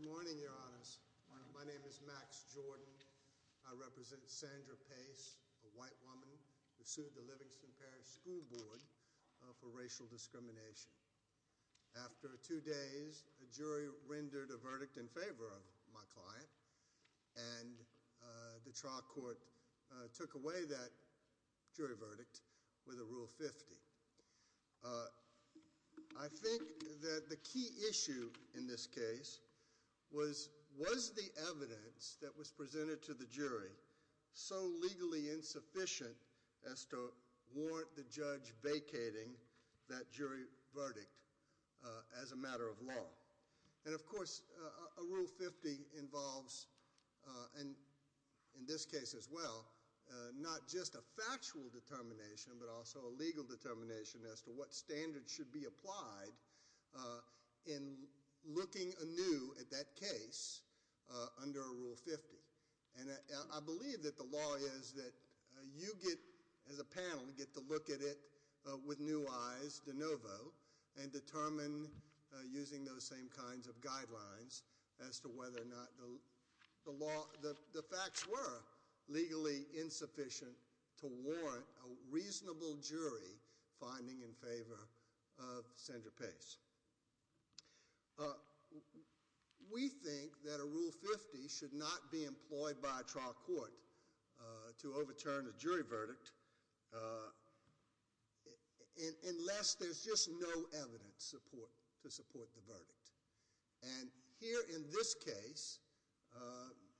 Good morning, Your Honors. My name is Max Jordan. I represent Sandra Pace, a white woman who sued the Livingston Parish School Board for racial discrimination. After two days, a jury rendered a verdict in favor of my client, and the trial court took away that jury verdict with a Rule 50. I think that the key issue in this case was, was the evidence that was presented to the jury verdict as a matter of law. And of course, a Rule 50 involves, and in this case as well, not just a factual determination but also a legal determination as to what standards should be applied in looking anew at that case under a Rule 50. And I believe that the law is that you get, as a panel, get to look at it with new eyes de novo and determine using those same kinds of guidelines as to whether or not the facts were legally insufficient to warrant a reasonable jury finding in favor of Sandra Pace. We think that a Rule 50 should not be employed by a trial court to overturn a jury verdict unless there's just no evidence to support the verdict. And here in this case,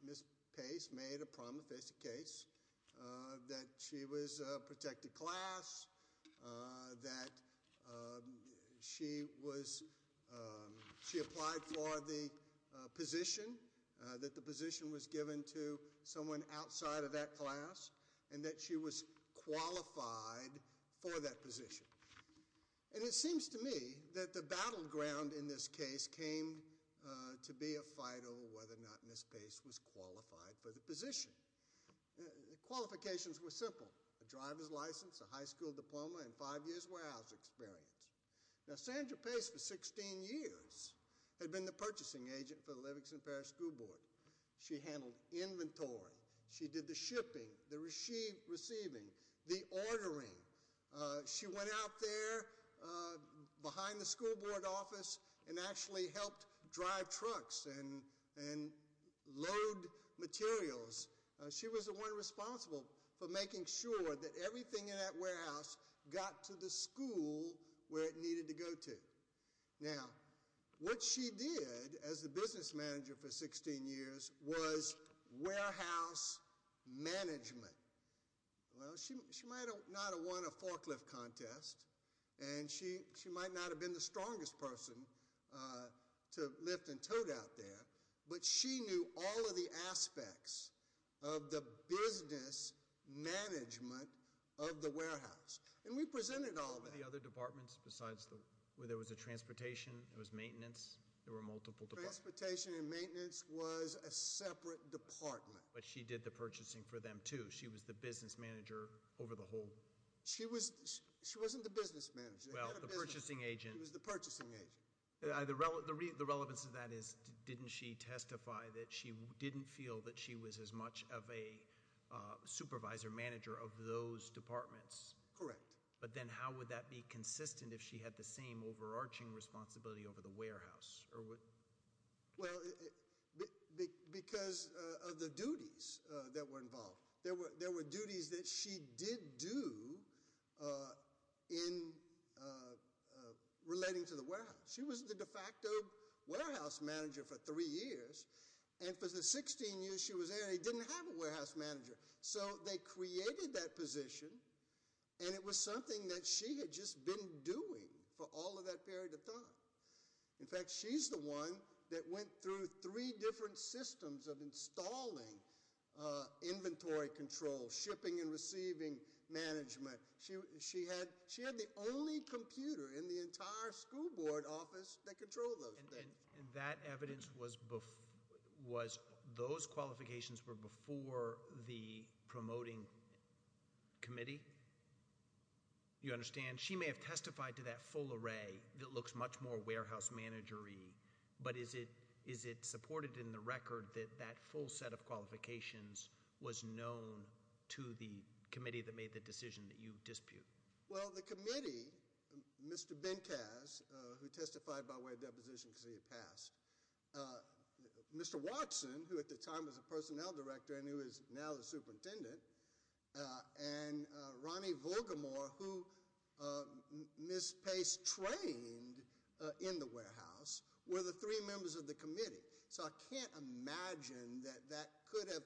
Ms. Pace made a problem-facing case that she was a protected class, that she was, she applied for the position, that the position was given to someone outside of that class, and that she was qualified for that position. And it seems to me that the battleground in this case came to be a fight over whether or not Ms. Pace was qualified for the position. Qualifications were simple. A driver's license, a high school diploma, and five years' warehouse experience. Now Sandra Pace, for 16 years, had been the purchasing agent for the Livingston Parish School Board. She handled inventory. She did the shipping, the receiving, the ordering. She went out there behind the school board office and actually helped drive trucks and load materials. She was the one responsible for making sure that everything in that warehouse got to the school where it needed to go to. Now what she did as the business manager for 16 years was warehouse management. Well, she might not have won a forklift contest, and she might not have been the strongest person to lift and tote out there, but she knew all of the aspects of the business management of the warehouse. And we presented all of it. The other departments besides the, where there was a transportation, there was maintenance, there were multiple departments. Transportation and maintenance was a separate department. But she did the purchasing for them too. She was the business manager over the whole. She was, she wasn't the business manager. Well, the purchasing agent. She was the purchasing agent. The relevance of that is, didn't she testify that she didn't feel that she was as much of a supervisor, manager of those departments? Correct. But then how would that be consistent if she had the same overarching responsibility over the warehouse? Well, because of the duties that were involved. There were duties that she did do in relating to the warehouse. She was the de facto warehouse manager for three years. And for the 16 years she was there, they didn't have a warehouse manager. So they created that position, and it was something that she had just been doing for all of that period of time. In fact, she's the one that went through three different systems of installing inventory control, shipping and receiving management. She had the only computer in the entire school board office that controlled those things. And that evidence was, those qualifications were before the promoting committee? You understand? And she may have testified to that full array that looks much more warehouse manager-y, but is it supported in the record that that full set of qualifications was known to the committee that made the decision that you dispute? Well, the committee, Mr. Benkaz, who testified by way of deposition because he had passed, Mr. Watson, who at the time was the personnel director and who is now the superintendent, and Ronnie Volgamore, who Ms. Pace trained in the warehouse, were the three members of the committee. So I can't imagine that that could have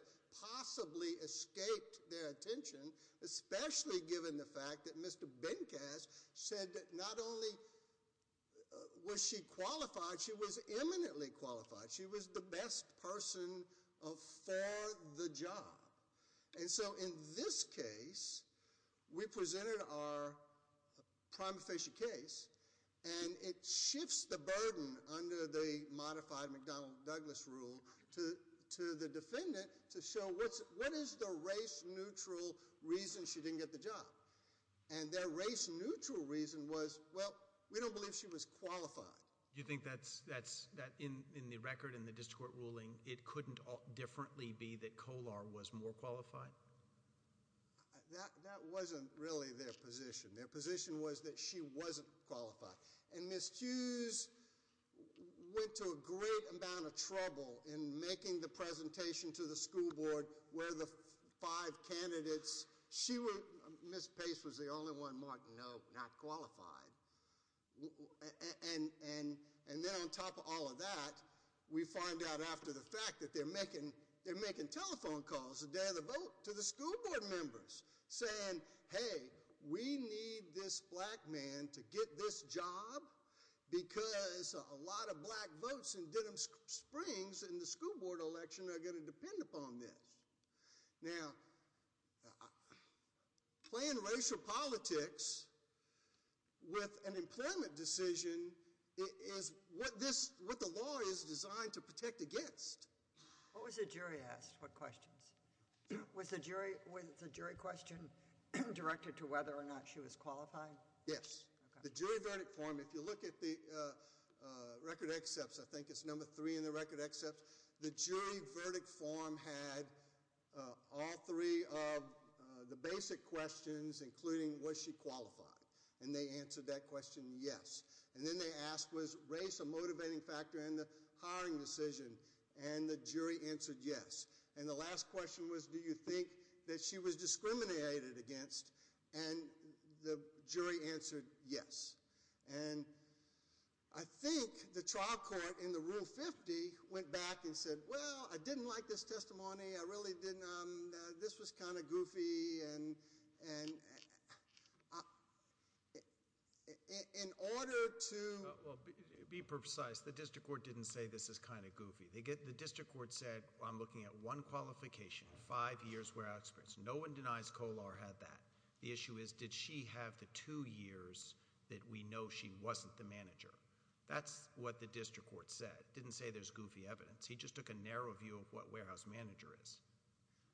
possibly escaped their attention, especially given the fact that Mr. Benkaz said that not only was she qualified, she was eminently qualified. She was the best person for the job. And so in this case, we presented our prima facie case, and it shifts the burden under the modified McDonnell-Douglas rule to the defendant to show what is the race-neutral reason she didn't get the job? And their race-neutral reason was, well, we don't believe she was qualified. You think that's, in the record, in the district court ruling, it couldn't differently be that she wasn't qualified? That wasn't really their position. Their position was that she wasn't qualified. And Ms. Hughes went to a great amount of trouble in making the presentation to the school board where the five candidates, she was, Ms. Pace was the only one marked no, not qualified. And then on top of all of that, we find out after the fact that they're making telephone calls the day of the vote to the school board members saying, hey, we need this black man to get this job because a lot of black votes in Denham Springs in the school board election are going to depend upon this. Now, playing racial politics with an employment decision is what this, what the law is designed to protect against. What was the jury asked for questions? Was the jury question directed to whether or not she was qualified? Yes. The jury verdict form, if you look at the record accepts, I think it's number three in the record accepts, the jury verdict form had all three of the basic questions, including was she qualified? And they answered that question, yes. And then they asked, was race a motivating factor in the hiring decision? And the jury answered yes. And the last question was, do you think that she was discriminated against? And the jury answered yes. And I think the trial court in the rule 50 went back and said, well, I didn't like this testimony. I really didn't. This was kind of goofy. And in order to- Well, be precise. The district court didn't say this is kind of goofy. The district court said, I'm looking at one qualification, five years where I experienced. No one denies Kolar had that. The issue is, did she have the two years that we know she wasn't the manager? That's what the district court said. Didn't say there's goofy evidence. He just took a narrow view of what warehouse manager is.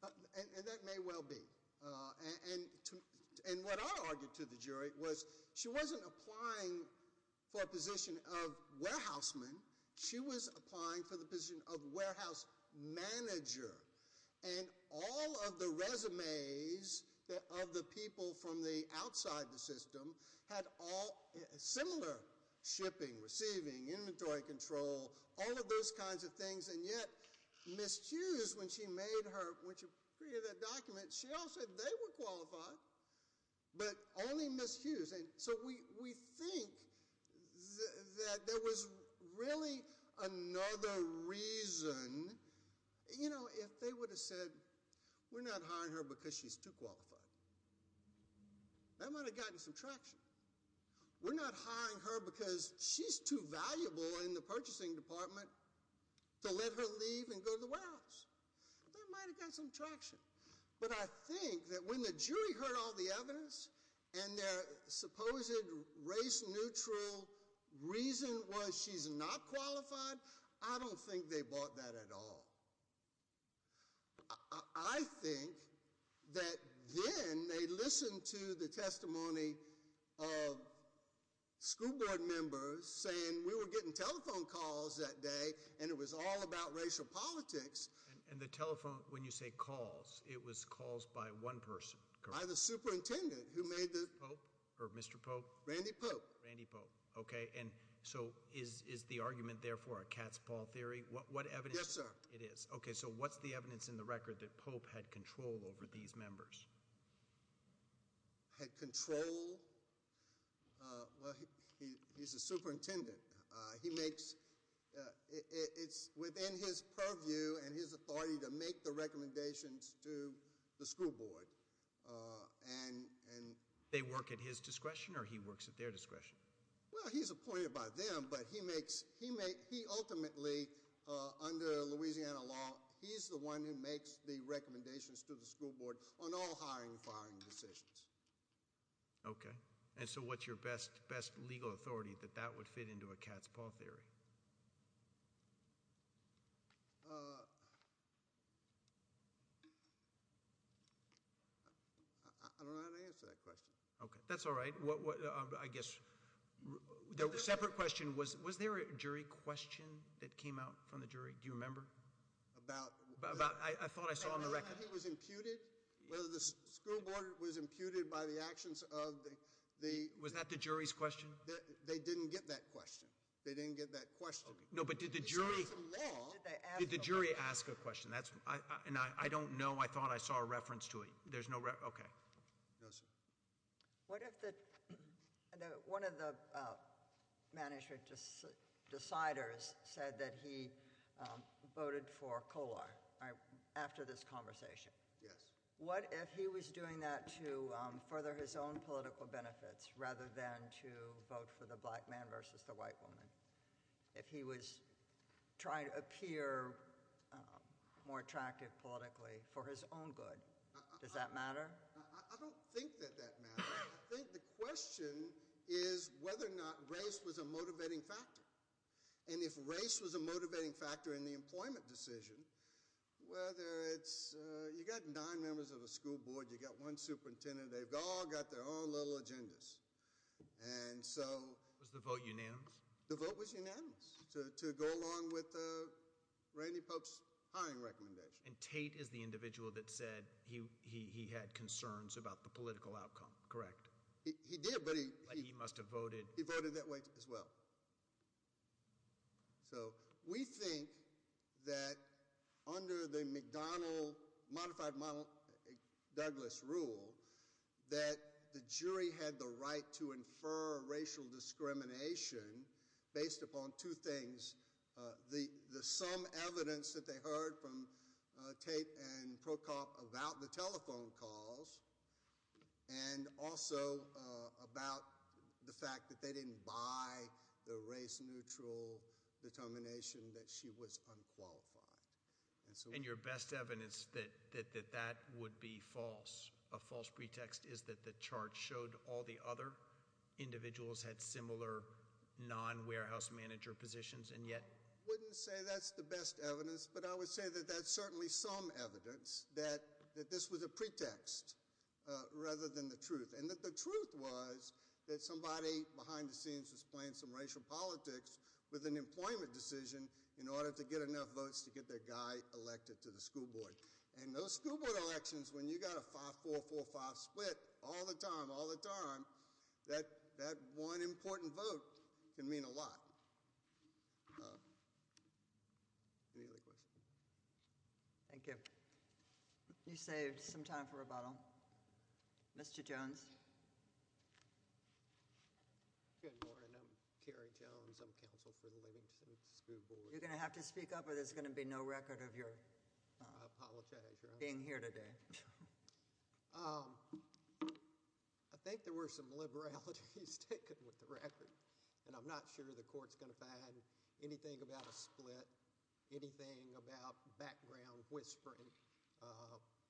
And that may well be. And what I argued to the jury was, she wasn't applying for a position of warehouse man. She was applying for the position of warehouse manager. And all of the resumes of the people from the outside the system had all similar shipping, receiving, inventory control, all of those kinds of things. And yet, Ms. Hughes, when she created that document, she also said they were qualified, but only Ms. Hughes. And so we think that there was really another reason, you know, if they would have said, we're not hiring her because she's too qualified, that might have gotten some traction. We're not hiring her because she's too valuable in the purchasing department to let her leave and go to the warehouse. That might have gotten some traction. But I think that when the jury heard all the evidence, and their supposed race neutral reason was she's not qualified, I don't think they bought that at all. I think that then they listened to the testimony of school board members saying we were getting telephone calls that day and it was all about racial politics. And the telephone, when you say calls, it was calls by one person, correct? By the superintendent who made the- Pope? Or Mr. Pope? Randy Pope. Randy Pope. Okay, and so is the argument therefore a cat's paw theory? What evidence- Yes, sir. It is. Okay, so what's the evidence in the record that Pope had control over these members? Had control, well, he's a superintendent. He makes, it's within his purview and his authority to make the recommendations to the school board and- They work at his discretion or he works at their discretion? Well, he's appointed by them, but he ultimately, under Louisiana law, he's the one who makes the recommendations to the school board on all hiring and firing decisions. Okay, and so what's your best legal authority that that would fit into a cat's paw theory? I don't know how to answer that question. Okay, that's all right. I guess, the separate question was, was there a jury question that came out from the jury? Do you remember? About- About, I thought I saw in the record- About whether he was imputed? Whether the school board was imputed by the actions of the- Was that the jury's question? They didn't get that question. They didn't get that question. No, but did the jury- It's not in the law. Did the jury ask a question? That's, and I don't know. I thought I saw a reference to it. There's no, okay. No, sir. What if the, one of the management deciders said that he voted for Kolar after this conversation? Yes. What if he was doing that to further his own political benefits rather than to vote for the black man versus the white woman? If he was trying to appear more attractive politically for his own good, does that matter? I don't think that that matters. I think the question is whether or not race was a motivating factor. And if race was a motivating factor in the employment decision, whether it's, you got nine members of a school board, you got one superintendent, they've all got their own little agendas. And so- Was the vote unanimous? The vote was unanimous to go along with Randy Pope's hiring recommendation. And Tate is the individual that said he had concerns about the political outcome, correct? He did, but he- He must have voted- He voted that way as well. So, we think that under the McDonald, modified McDouglas rule, that the jury had the right to infer racial discrimination based upon two things. The some evidence that they heard from Tate and Procop about the telephone calls and also about the fact that they didn't buy the race neutral determination that she was unqualified. And so- And your best evidence that that would be false, a false pretext is that the chart showed all the other individuals had similar non-warehouse manager positions and yet- Wouldn't say that's the best evidence, but I would say that that's certainly some evidence that this was a pretext rather than the truth. And that the truth was that somebody behind the scenes was playing some racial politics with an employment decision in order to get enough votes to get their guy elected to the school board. And those school board elections, when you got a 5-4-4-5 split all the time, all the time, that one important vote can mean a lot. Any other questions? Thank you. You saved some time for rebuttal. Mr. Jones? Good morning, I'm Kerry Jones. I'm counsel for the Livingston School Board. You're going to have to speak up or there's going to be no record of your- I apologize, your honor. Being here today. I think there were some liberalities taken with the record. And I'm not sure the court's going to find anything about a split, anything about background whispering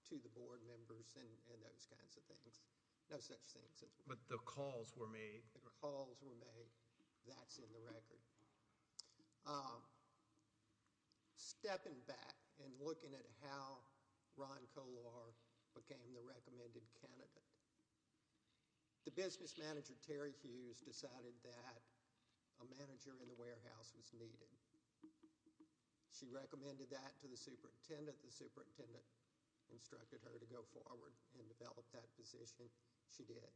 to the board members and those kinds of things. No such things. But the calls were made. The calls were made. That's in the record. Stepping back and looking at how Ron Collar became the recommended candidate. The business manager, Terry Hughes, decided that a manager in the warehouse was needed. She recommended that to the superintendent. The superintendent instructed her to go forward and develop that position. She did.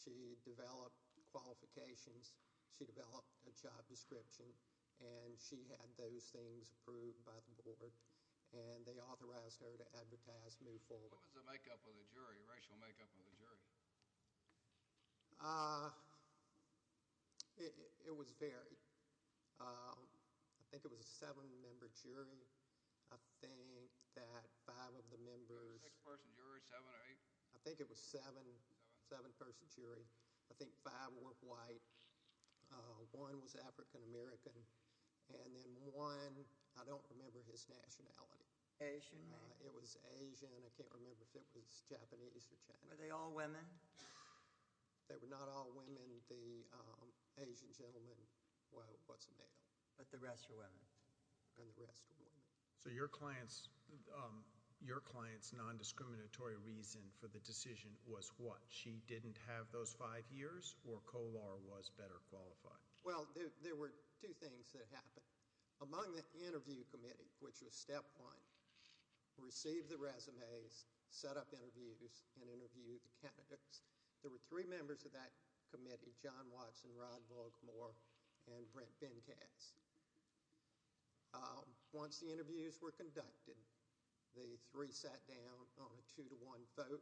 She developed qualifications. She developed a job description. And she had those things approved by the board. And they authorized her to advertise, move forward. What was the makeup of the jury, racial makeup of the jury? It was varied. I think it was a seven-member jury. I think that five of the members- Six-person jury, seven or eight? I think it was a seven-person jury. I think five were white, one was African-American, and then one, I don't remember his nationality. Asian, maybe. It was Asian. I can't remember if it was Japanese or Chinese. Were they all women? They were not all women. The Asian gentleman was a male. But the rest were women? And the rest were women. So your client's non-discriminatory reason for the decision was what? She didn't have those five years, or Kolar was better qualified? Well, there were two things that happened. Among the interview committee, which was step one, received the resumes, set up interviews, and interviewed the candidates. There were three members of that committee, John Watson, Rod Volgmore, and Brent Benkatz. Once the interviews were conducted, the three sat down on a two-to-one vote.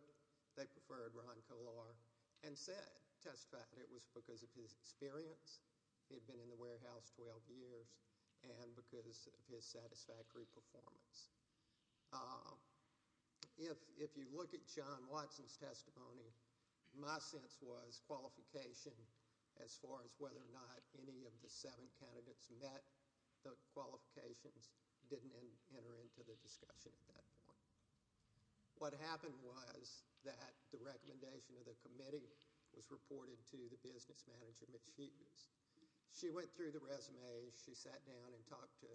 They preferred Ron Kolar and testified it was because of his experience. He had been in the warehouse 12 years, and because of his satisfactory performance. If you look at John Watson's testimony, my sense was qualification as far as whether or not any of the seven candidates met the qualifications didn't enter into the discussion at that point. What happened was that the recommendation of the committee was reported to the business manager, Mitch Hughes. She went through the resumes. She sat down and talked to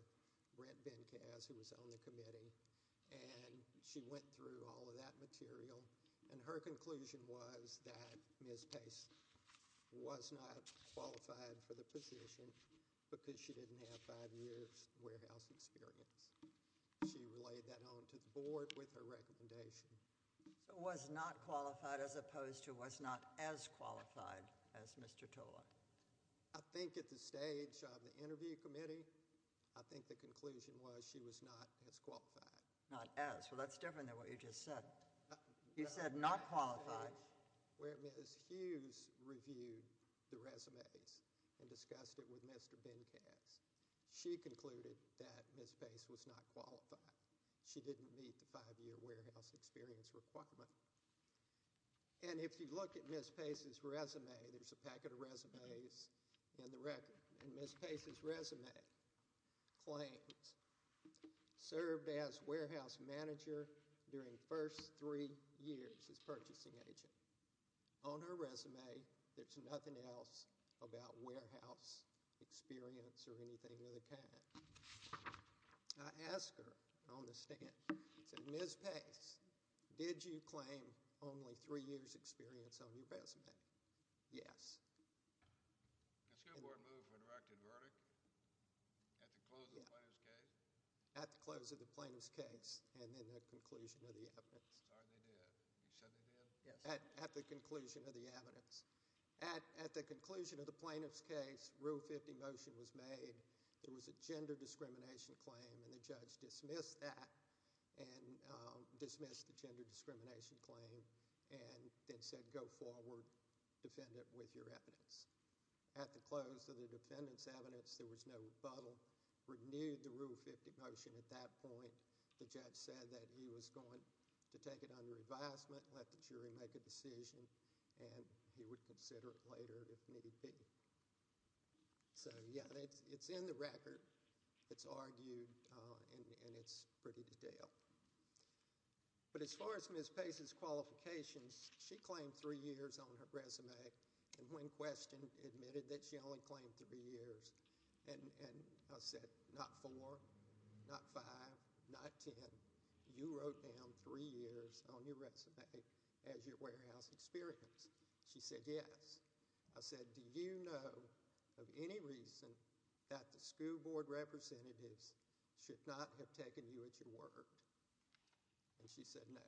Brent Benkatz, who was on the committee, and she went through all of that material. And her conclusion was that Ms. Pace was not qualified for the position because she didn't have five years warehouse experience. She relayed that on to the board with her recommendation. So was not qualified as opposed to was not as qualified as Mr. Kolar? I think at the stage of the interview committee, I think the conclusion was she was not as qualified. Not as? Well, that's different than what you just said. You said not qualified. Where Ms. Hughes reviewed the resumes and discussed it with Mr. Benkatz. She concluded that Ms. Pace was not qualified. She didn't meet the five-year warehouse experience requirement. And if you look at Ms. Pace's resume, there's a packet of resumes in the record. And Ms. Pace's resume claims served as warehouse manager during first three years as purchasing agent. On her resume, there's nothing else about warehouse experience or anything of the kind. I asked her on the stand, I said, Ms. Pace, did you claim only three years experience on your resume? Yes. Has your board moved for a directed verdict at the close of the plaintiff's case? At the close of the plaintiff's case and in the conclusion of the evidence. Sorry, they did. You said they did? At the conclusion of the evidence. At the conclusion of the plaintiff's case, Rule 50 motion was made. There was a gender discrimination claim and the judge dismissed that and dismissed the gender discrimination claim and then said, go forward, defend it with your evidence. At the close of the defendant's evidence, there was no rebuttal. Renewed the Rule 50 motion at that point. The judge said that he was going to take it under advisement, let the jury make a decision and he would consider it later if need be. So, yeah, it's in the record. It's argued and it's pretty detailed. But as far as Ms. Pace's qualifications, she claimed three years on her resume and when questioned, admitted that she only claimed three years. And I said, not four, not five, not ten. You wrote down three years on your resume as your warehouse experience. She said, yes. I said, do you know of any reason that the school board representatives should not have taken you at your word, and she said, no.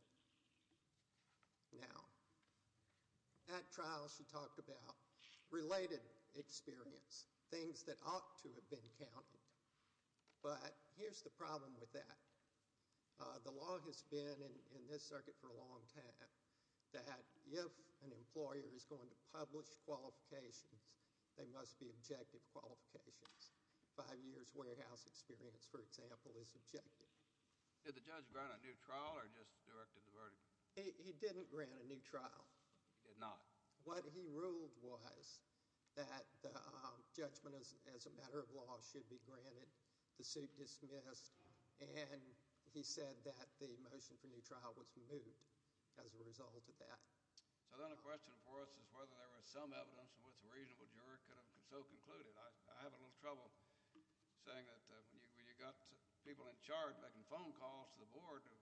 Now, at trial she talked about related experience, things that ought to have been counted, but here's the problem with that. The law has been in this circuit for a long time, that if an employer is going to publish qualifications, they must be objective qualifications. Five years warehouse experience, for example, is objective. Did the judge grant a new trial or just directed the verdict? He didn't grant a new trial. He did not. What he ruled was that judgment as a matter of law should be granted. The suit dismissed, and he said that the motion for new trial was moved as a result of that. So then the question for us is whether there was some evidence in which a reasonable juror could have so concluded. I have a little trouble saying that when you got people in charge making phone calls to the board and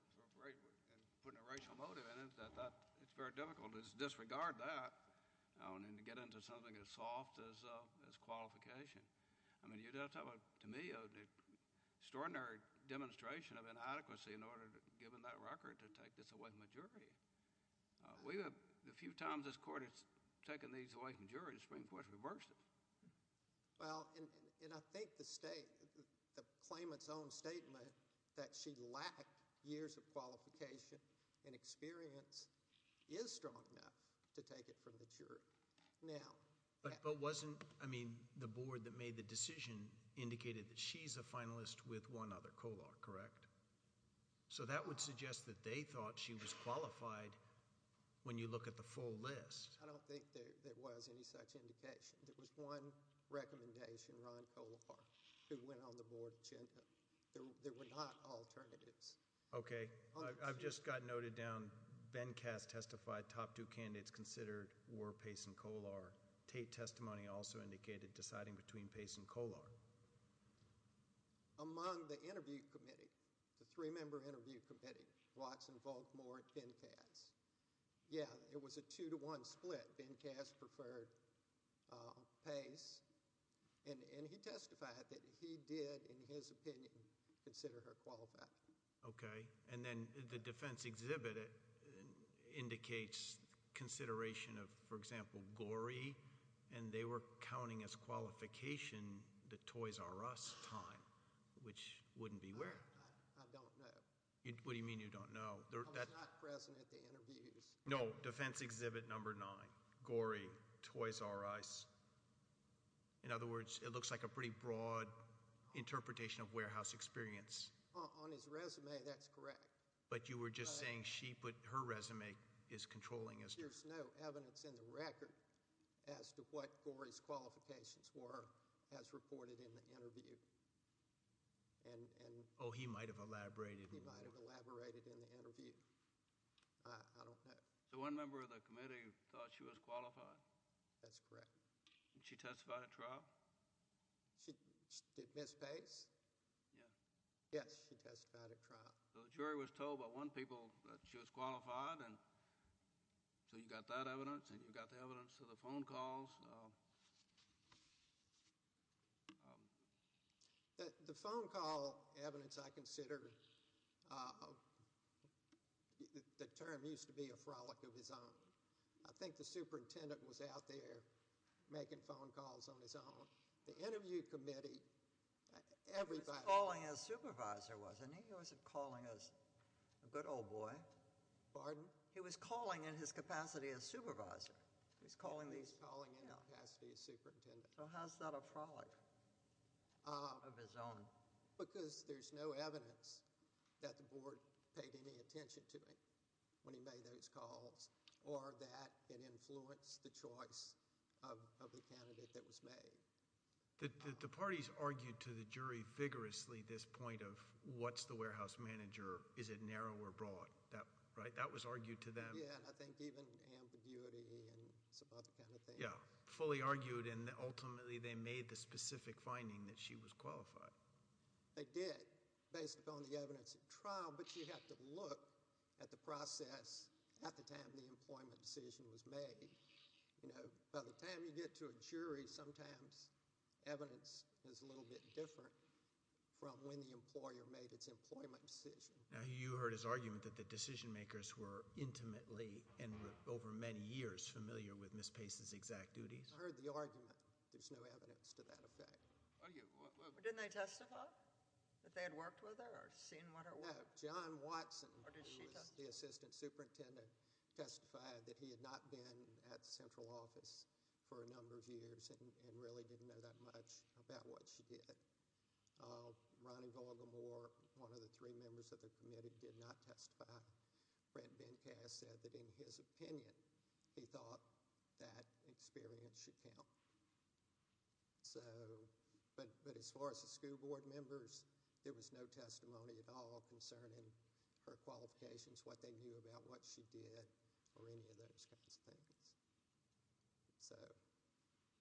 putting a racial motive in it, it's very difficult to disregard that and to get into something as soft as qualification. I mean, you're talking to me of the extraordinary demonstration of inadequacy in order to, given that record, to take this away from a jury. We have, the few times this court has taken these away from juries, the Supreme Court's reversed it. Well, and I think the state, the claimant's own statement that she lacked years of qualification and experience is strong enough to take it from the jury. Now- But wasn't, I mean, the board that made the decision indicated that she's a finalist with one other Kolar, correct? So that would suggest that they thought she was qualified when you look at the full list. I don't think there was any such indication. There was one recommendation, Ron Kolar, who went on the board agenda. There were not alternatives. Okay, I've just got noted down, Ben Cass testified top two candidates considered were Pace and Kolar. Tate testimony also indicated deciding between Pace and Kolar. Among the interview committee, the three member interview committee, Watson, Volk, Moore, and Cass. Yeah, it was a two to one split. Ben Cass preferred Pace. And he testified that he did, in his opinion, consider her qualified. Okay, and then the defense exhibit indicates consideration of, for example, Gorey, and they were counting as qualification the Toys R Us time, which wouldn't be weird. I don't know. What do you mean you don't know? I was not present at the interviews. No, defense exhibit number nine, Gorey, Toys R Us. In other words, it looks like a pretty broad interpretation of warehouse experience. On his resume, that's correct. But you were just saying she put, her resume is controlling us. There's no evidence in the record as to what Gorey's qualifications were, as reported in the interview, and, and. Oh, he might have elaborated more. He might have elaborated in the interview. I don't know. So one member of the committee thought she was qualified. That's correct. She testified at trial? She, did Miss Pace? Yeah. Yes, she testified at trial. So the jury was told by one people that she was qualified, and so you got that evidence, and you got the evidence of the phone calls. The, the phone call evidence, I consider, the term used to be a frolic of his own. I think the superintendent was out there making phone calls on his own. The interview committee, everybody. He was calling as supervisor, wasn't he? He wasn't calling as a good old boy. Pardon? He was calling in his capacity as supervisor. He's calling these. He's calling in his capacity as superintendent. So how's that a frolic? Of his own. Because there's no evidence that the board paid any attention to him when he made those calls, or that it influenced the choice of, of the candidate that was made. The, the, the parties argued to the jury vigorously this point of what's the warehouse manager, is it narrow or broad, that, right, that was argued to them. Yeah, I think even ambiguity and some other kind of thing. Yeah, fully argued and ultimately they made the specific finding that she was qualified. They did, based upon the evidence at trial, but you have to look at the process at the time the employment decision was made, you know, by the time you get to the jury, sometimes evidence is a little bit different from when the employer made its employment decision. Now, you heard his argument that the decision makers were intimately and over many years familiar with Ms. Pace's exact duties. I heard the argument. There's no evidence to that effect. Are you, what, what? Didn't they testify? That they had worked with her or seen what it was? John Watson, who was the assistant superintendent, testified that he had not been at the central office for a number of years and really didn't know that much about what she did. Ronnie Volgamore, one of the three members of the committee, did not testify. Brent Benkast said that in his opinion, he thought that experience should count. So, but as far as the school board members, there was no testimony at all concerning her qualifications, what they knew about what she did, or any of those kinds of things. So,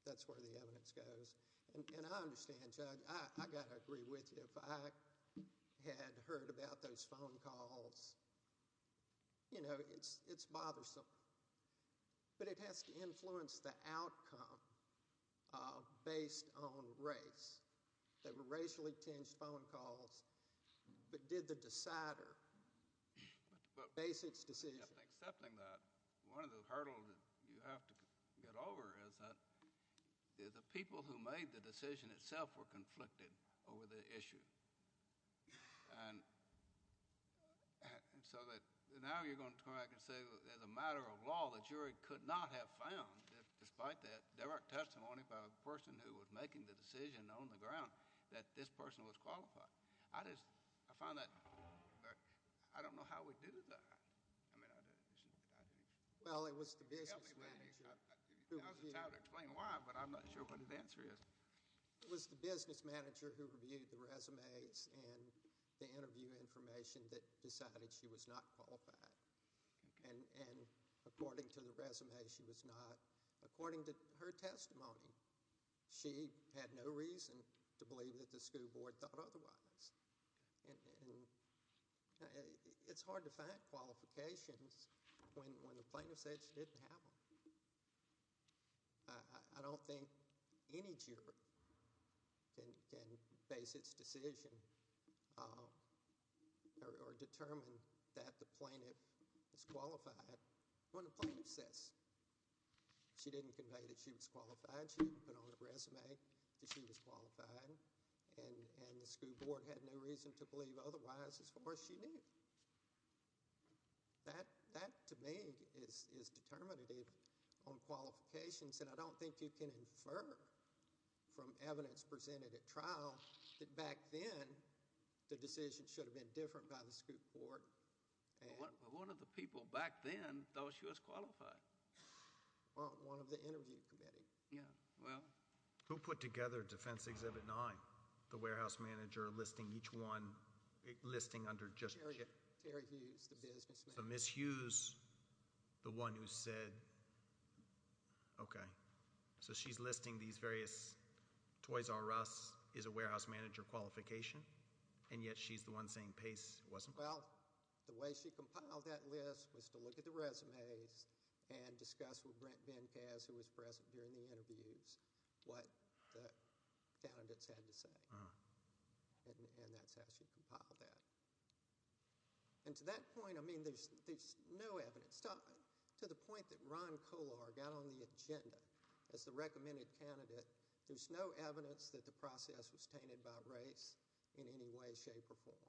that's where the evidence goes. And I understand, Judge, I got to agree with you. If I had heard about those phone calls, you know, it's bothersome. But it has to influence the outcome based on race. They were racially tinged phone calls, but did the decider base its decision? But, excepting that, one of the hurdles that you have to get over is that the people who made the decision itself were conflicted over the issue. And so that now you're going to come back and say, as a matter of law, the jury could not have found, despite that, direct testimony by a person who was making the decision on the ground, that this person was qualified. I just, I find that, I don't know how we do that. I mean, I just, I don't know. Well, it was the business manager who reviewed. I was going to try to explain why, but I'm not sure what the answer is. It was the business manager who reviewed the resumes and the interview information that decided she was not qualified. And according to the resume, she was not, according to her testimony, she had no reason to believe that the school board thought otherwise. And it's hard to find qualifications when the plaintiff says she didn't have them. I don't think any jury can base its decision or determine that the plaintiff is qualified when the plaintiff says she didn't convey that she was qualified, she didn't put on the resume that she was qualified, and the school board had no reason to believe otherwise as far as she knew. That, to me, is determinative on qualifications, and I don't think you can infer from evidence presented at trial that back then the decision should have been different by the school board. One of the people back then thought she was qualified. One of the interview committee. Who put together Defense Exhibit 9? The warehouse manager listing each one, listing under just— Terry Hughes, the business manager. So Ms. Hughes, the one who said, okay, so she's listing these various Toys R Us is a warehouse manager qualification, and yet she's the one saying Pace wasn't? Well, the way she compiled that list was to look at the resumes and discuss with Brent in the interviews what the candidates had to say, and that's how she compiled that. And to that point, I mean, there's no evidence—to the point that Ron Kolar got on the agenda as the recommended candidate, there's no evidence that the process was tainted by race in any way, shape, or form.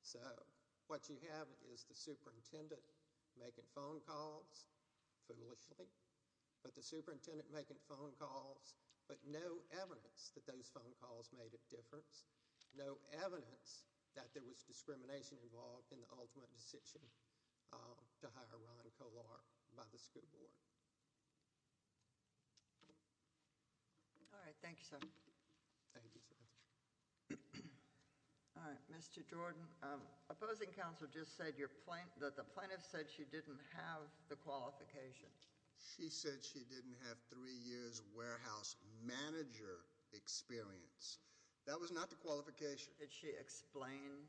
So, what you have is the superintendent making phone calls, foolishly, but the superintendent making phone calls, but no evidence that those phone calls made a difference, no evidence that there was discrimination involved in the ultimate decision to hire Ron Kolar by the school board. All right, thank you, sir. Thank you, sir. All right, Mr. Jordan, opposing counsel just said that the plaintiff said she didn't have the qualification. She said she didn't have three years warehouse manager experience. That was not the qualification. Did she explain?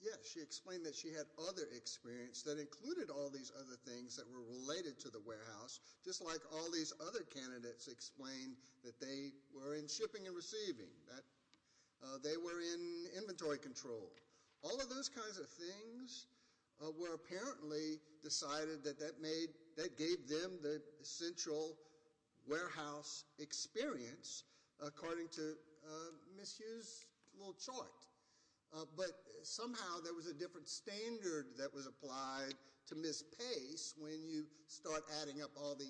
Yes, she explained that she had other experience that included all these other things that were related to the warehouse, just like all these other candidates explained that they were in shipping and receiving, that they were in inventory control. All of those kinds of things were apparently decided that that made—that gave them the essential warehouse experience, according to Ms. Hughes' little chart, but somehow there was a different standard that was applied to Ms. Pace when you start adding up all the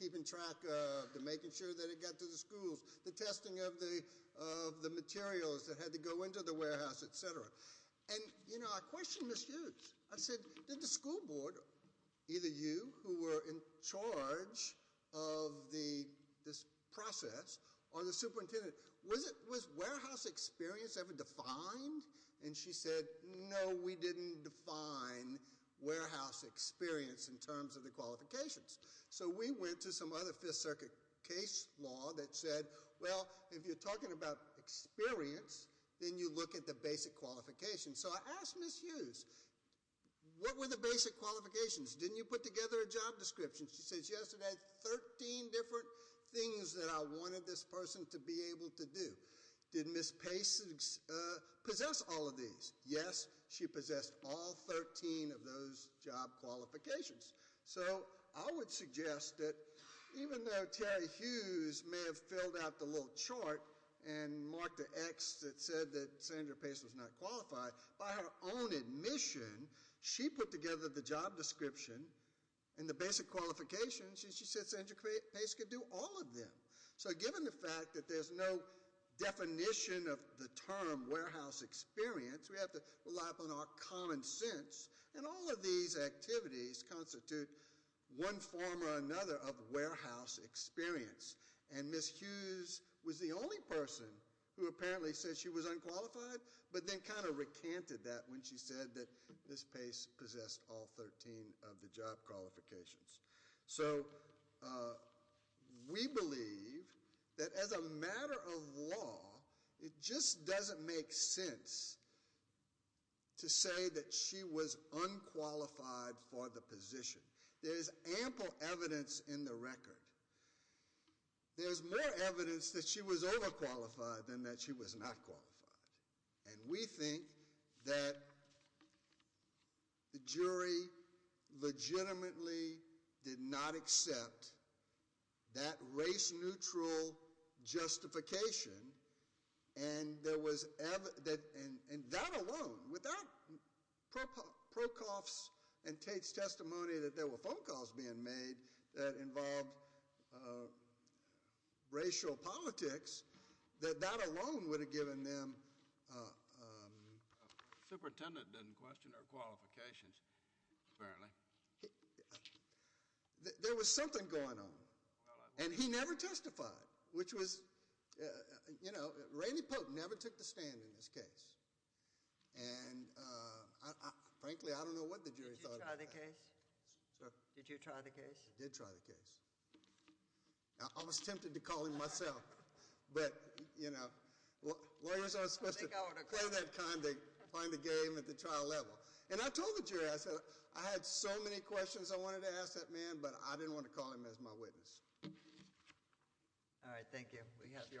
keeping track of, the making sure that it got to the schools, the testing of the materials that had to go into the warehouse, et cetera, and you know, I questioned Ms. Hughes. I said, did the school board, either you who were in charge of this process or the superintendent, was warehouse experience ever defined? And she said, no, we didn't define warehouse experience in terms of the qualifications, so we went to some other Fifth Circuit case law that said, well, if you're talking about experience, then you look at the basic qualifications. So I asked Ms. Hughes, what were the basic qualifications? Didn't you put together a job description? She says, yes, it had 13 different things that I wanted this person to be able to do. Did Ms. Pace possess all of these? Yes, she possessed all 13 of those job qualifications. So I would suggest that even though Terry Hughes may have filled out the little chart and marked the X that said that Sandra Pace was not qualified, by her own admission, she put together the job description and the basic qualifications, and she said Sandra Pace could do all of them. So given the fact that there's no definition of the term warehouse experience, we have to rely upon our common sense, and all of these activities constitute one form or another of warehouse experience. And Ms. Hughes was the only person who apparently said she was unqualified, but then kind of recanted that when she said that Ms. Pace possessed all 13 of the job qualifications. So we believe that as a matter of law, it just doesn't make sense to say that she was unqualified for the position. There's ample evidence in the record. There's more evidence that she was overqualified than that she was not qualified. And we think that the jury legitimately did not accept that race-neutral justification, and that alone, without Prokoff's and Tate's testimony that there were phone calls being made that involved racial politics, that that alone would have given them... Superintendent didn't question her qualifications, apparently. There was something going on, and he never testified, which was, you know, Randy Pote never took the stand in this case. And frankly, I don't know what the jury thought of that. Did you try the case? Sorry? Did you try the case? I did try the case. I was tempted to call him myself, but, you know, lawyers aren't supposed to play that kind of game at the trial level. And I told the jury, I said, I had so many questions I wanted to ask that man, but I didn't want to call him as my witness. All right, thank you. We have your argument.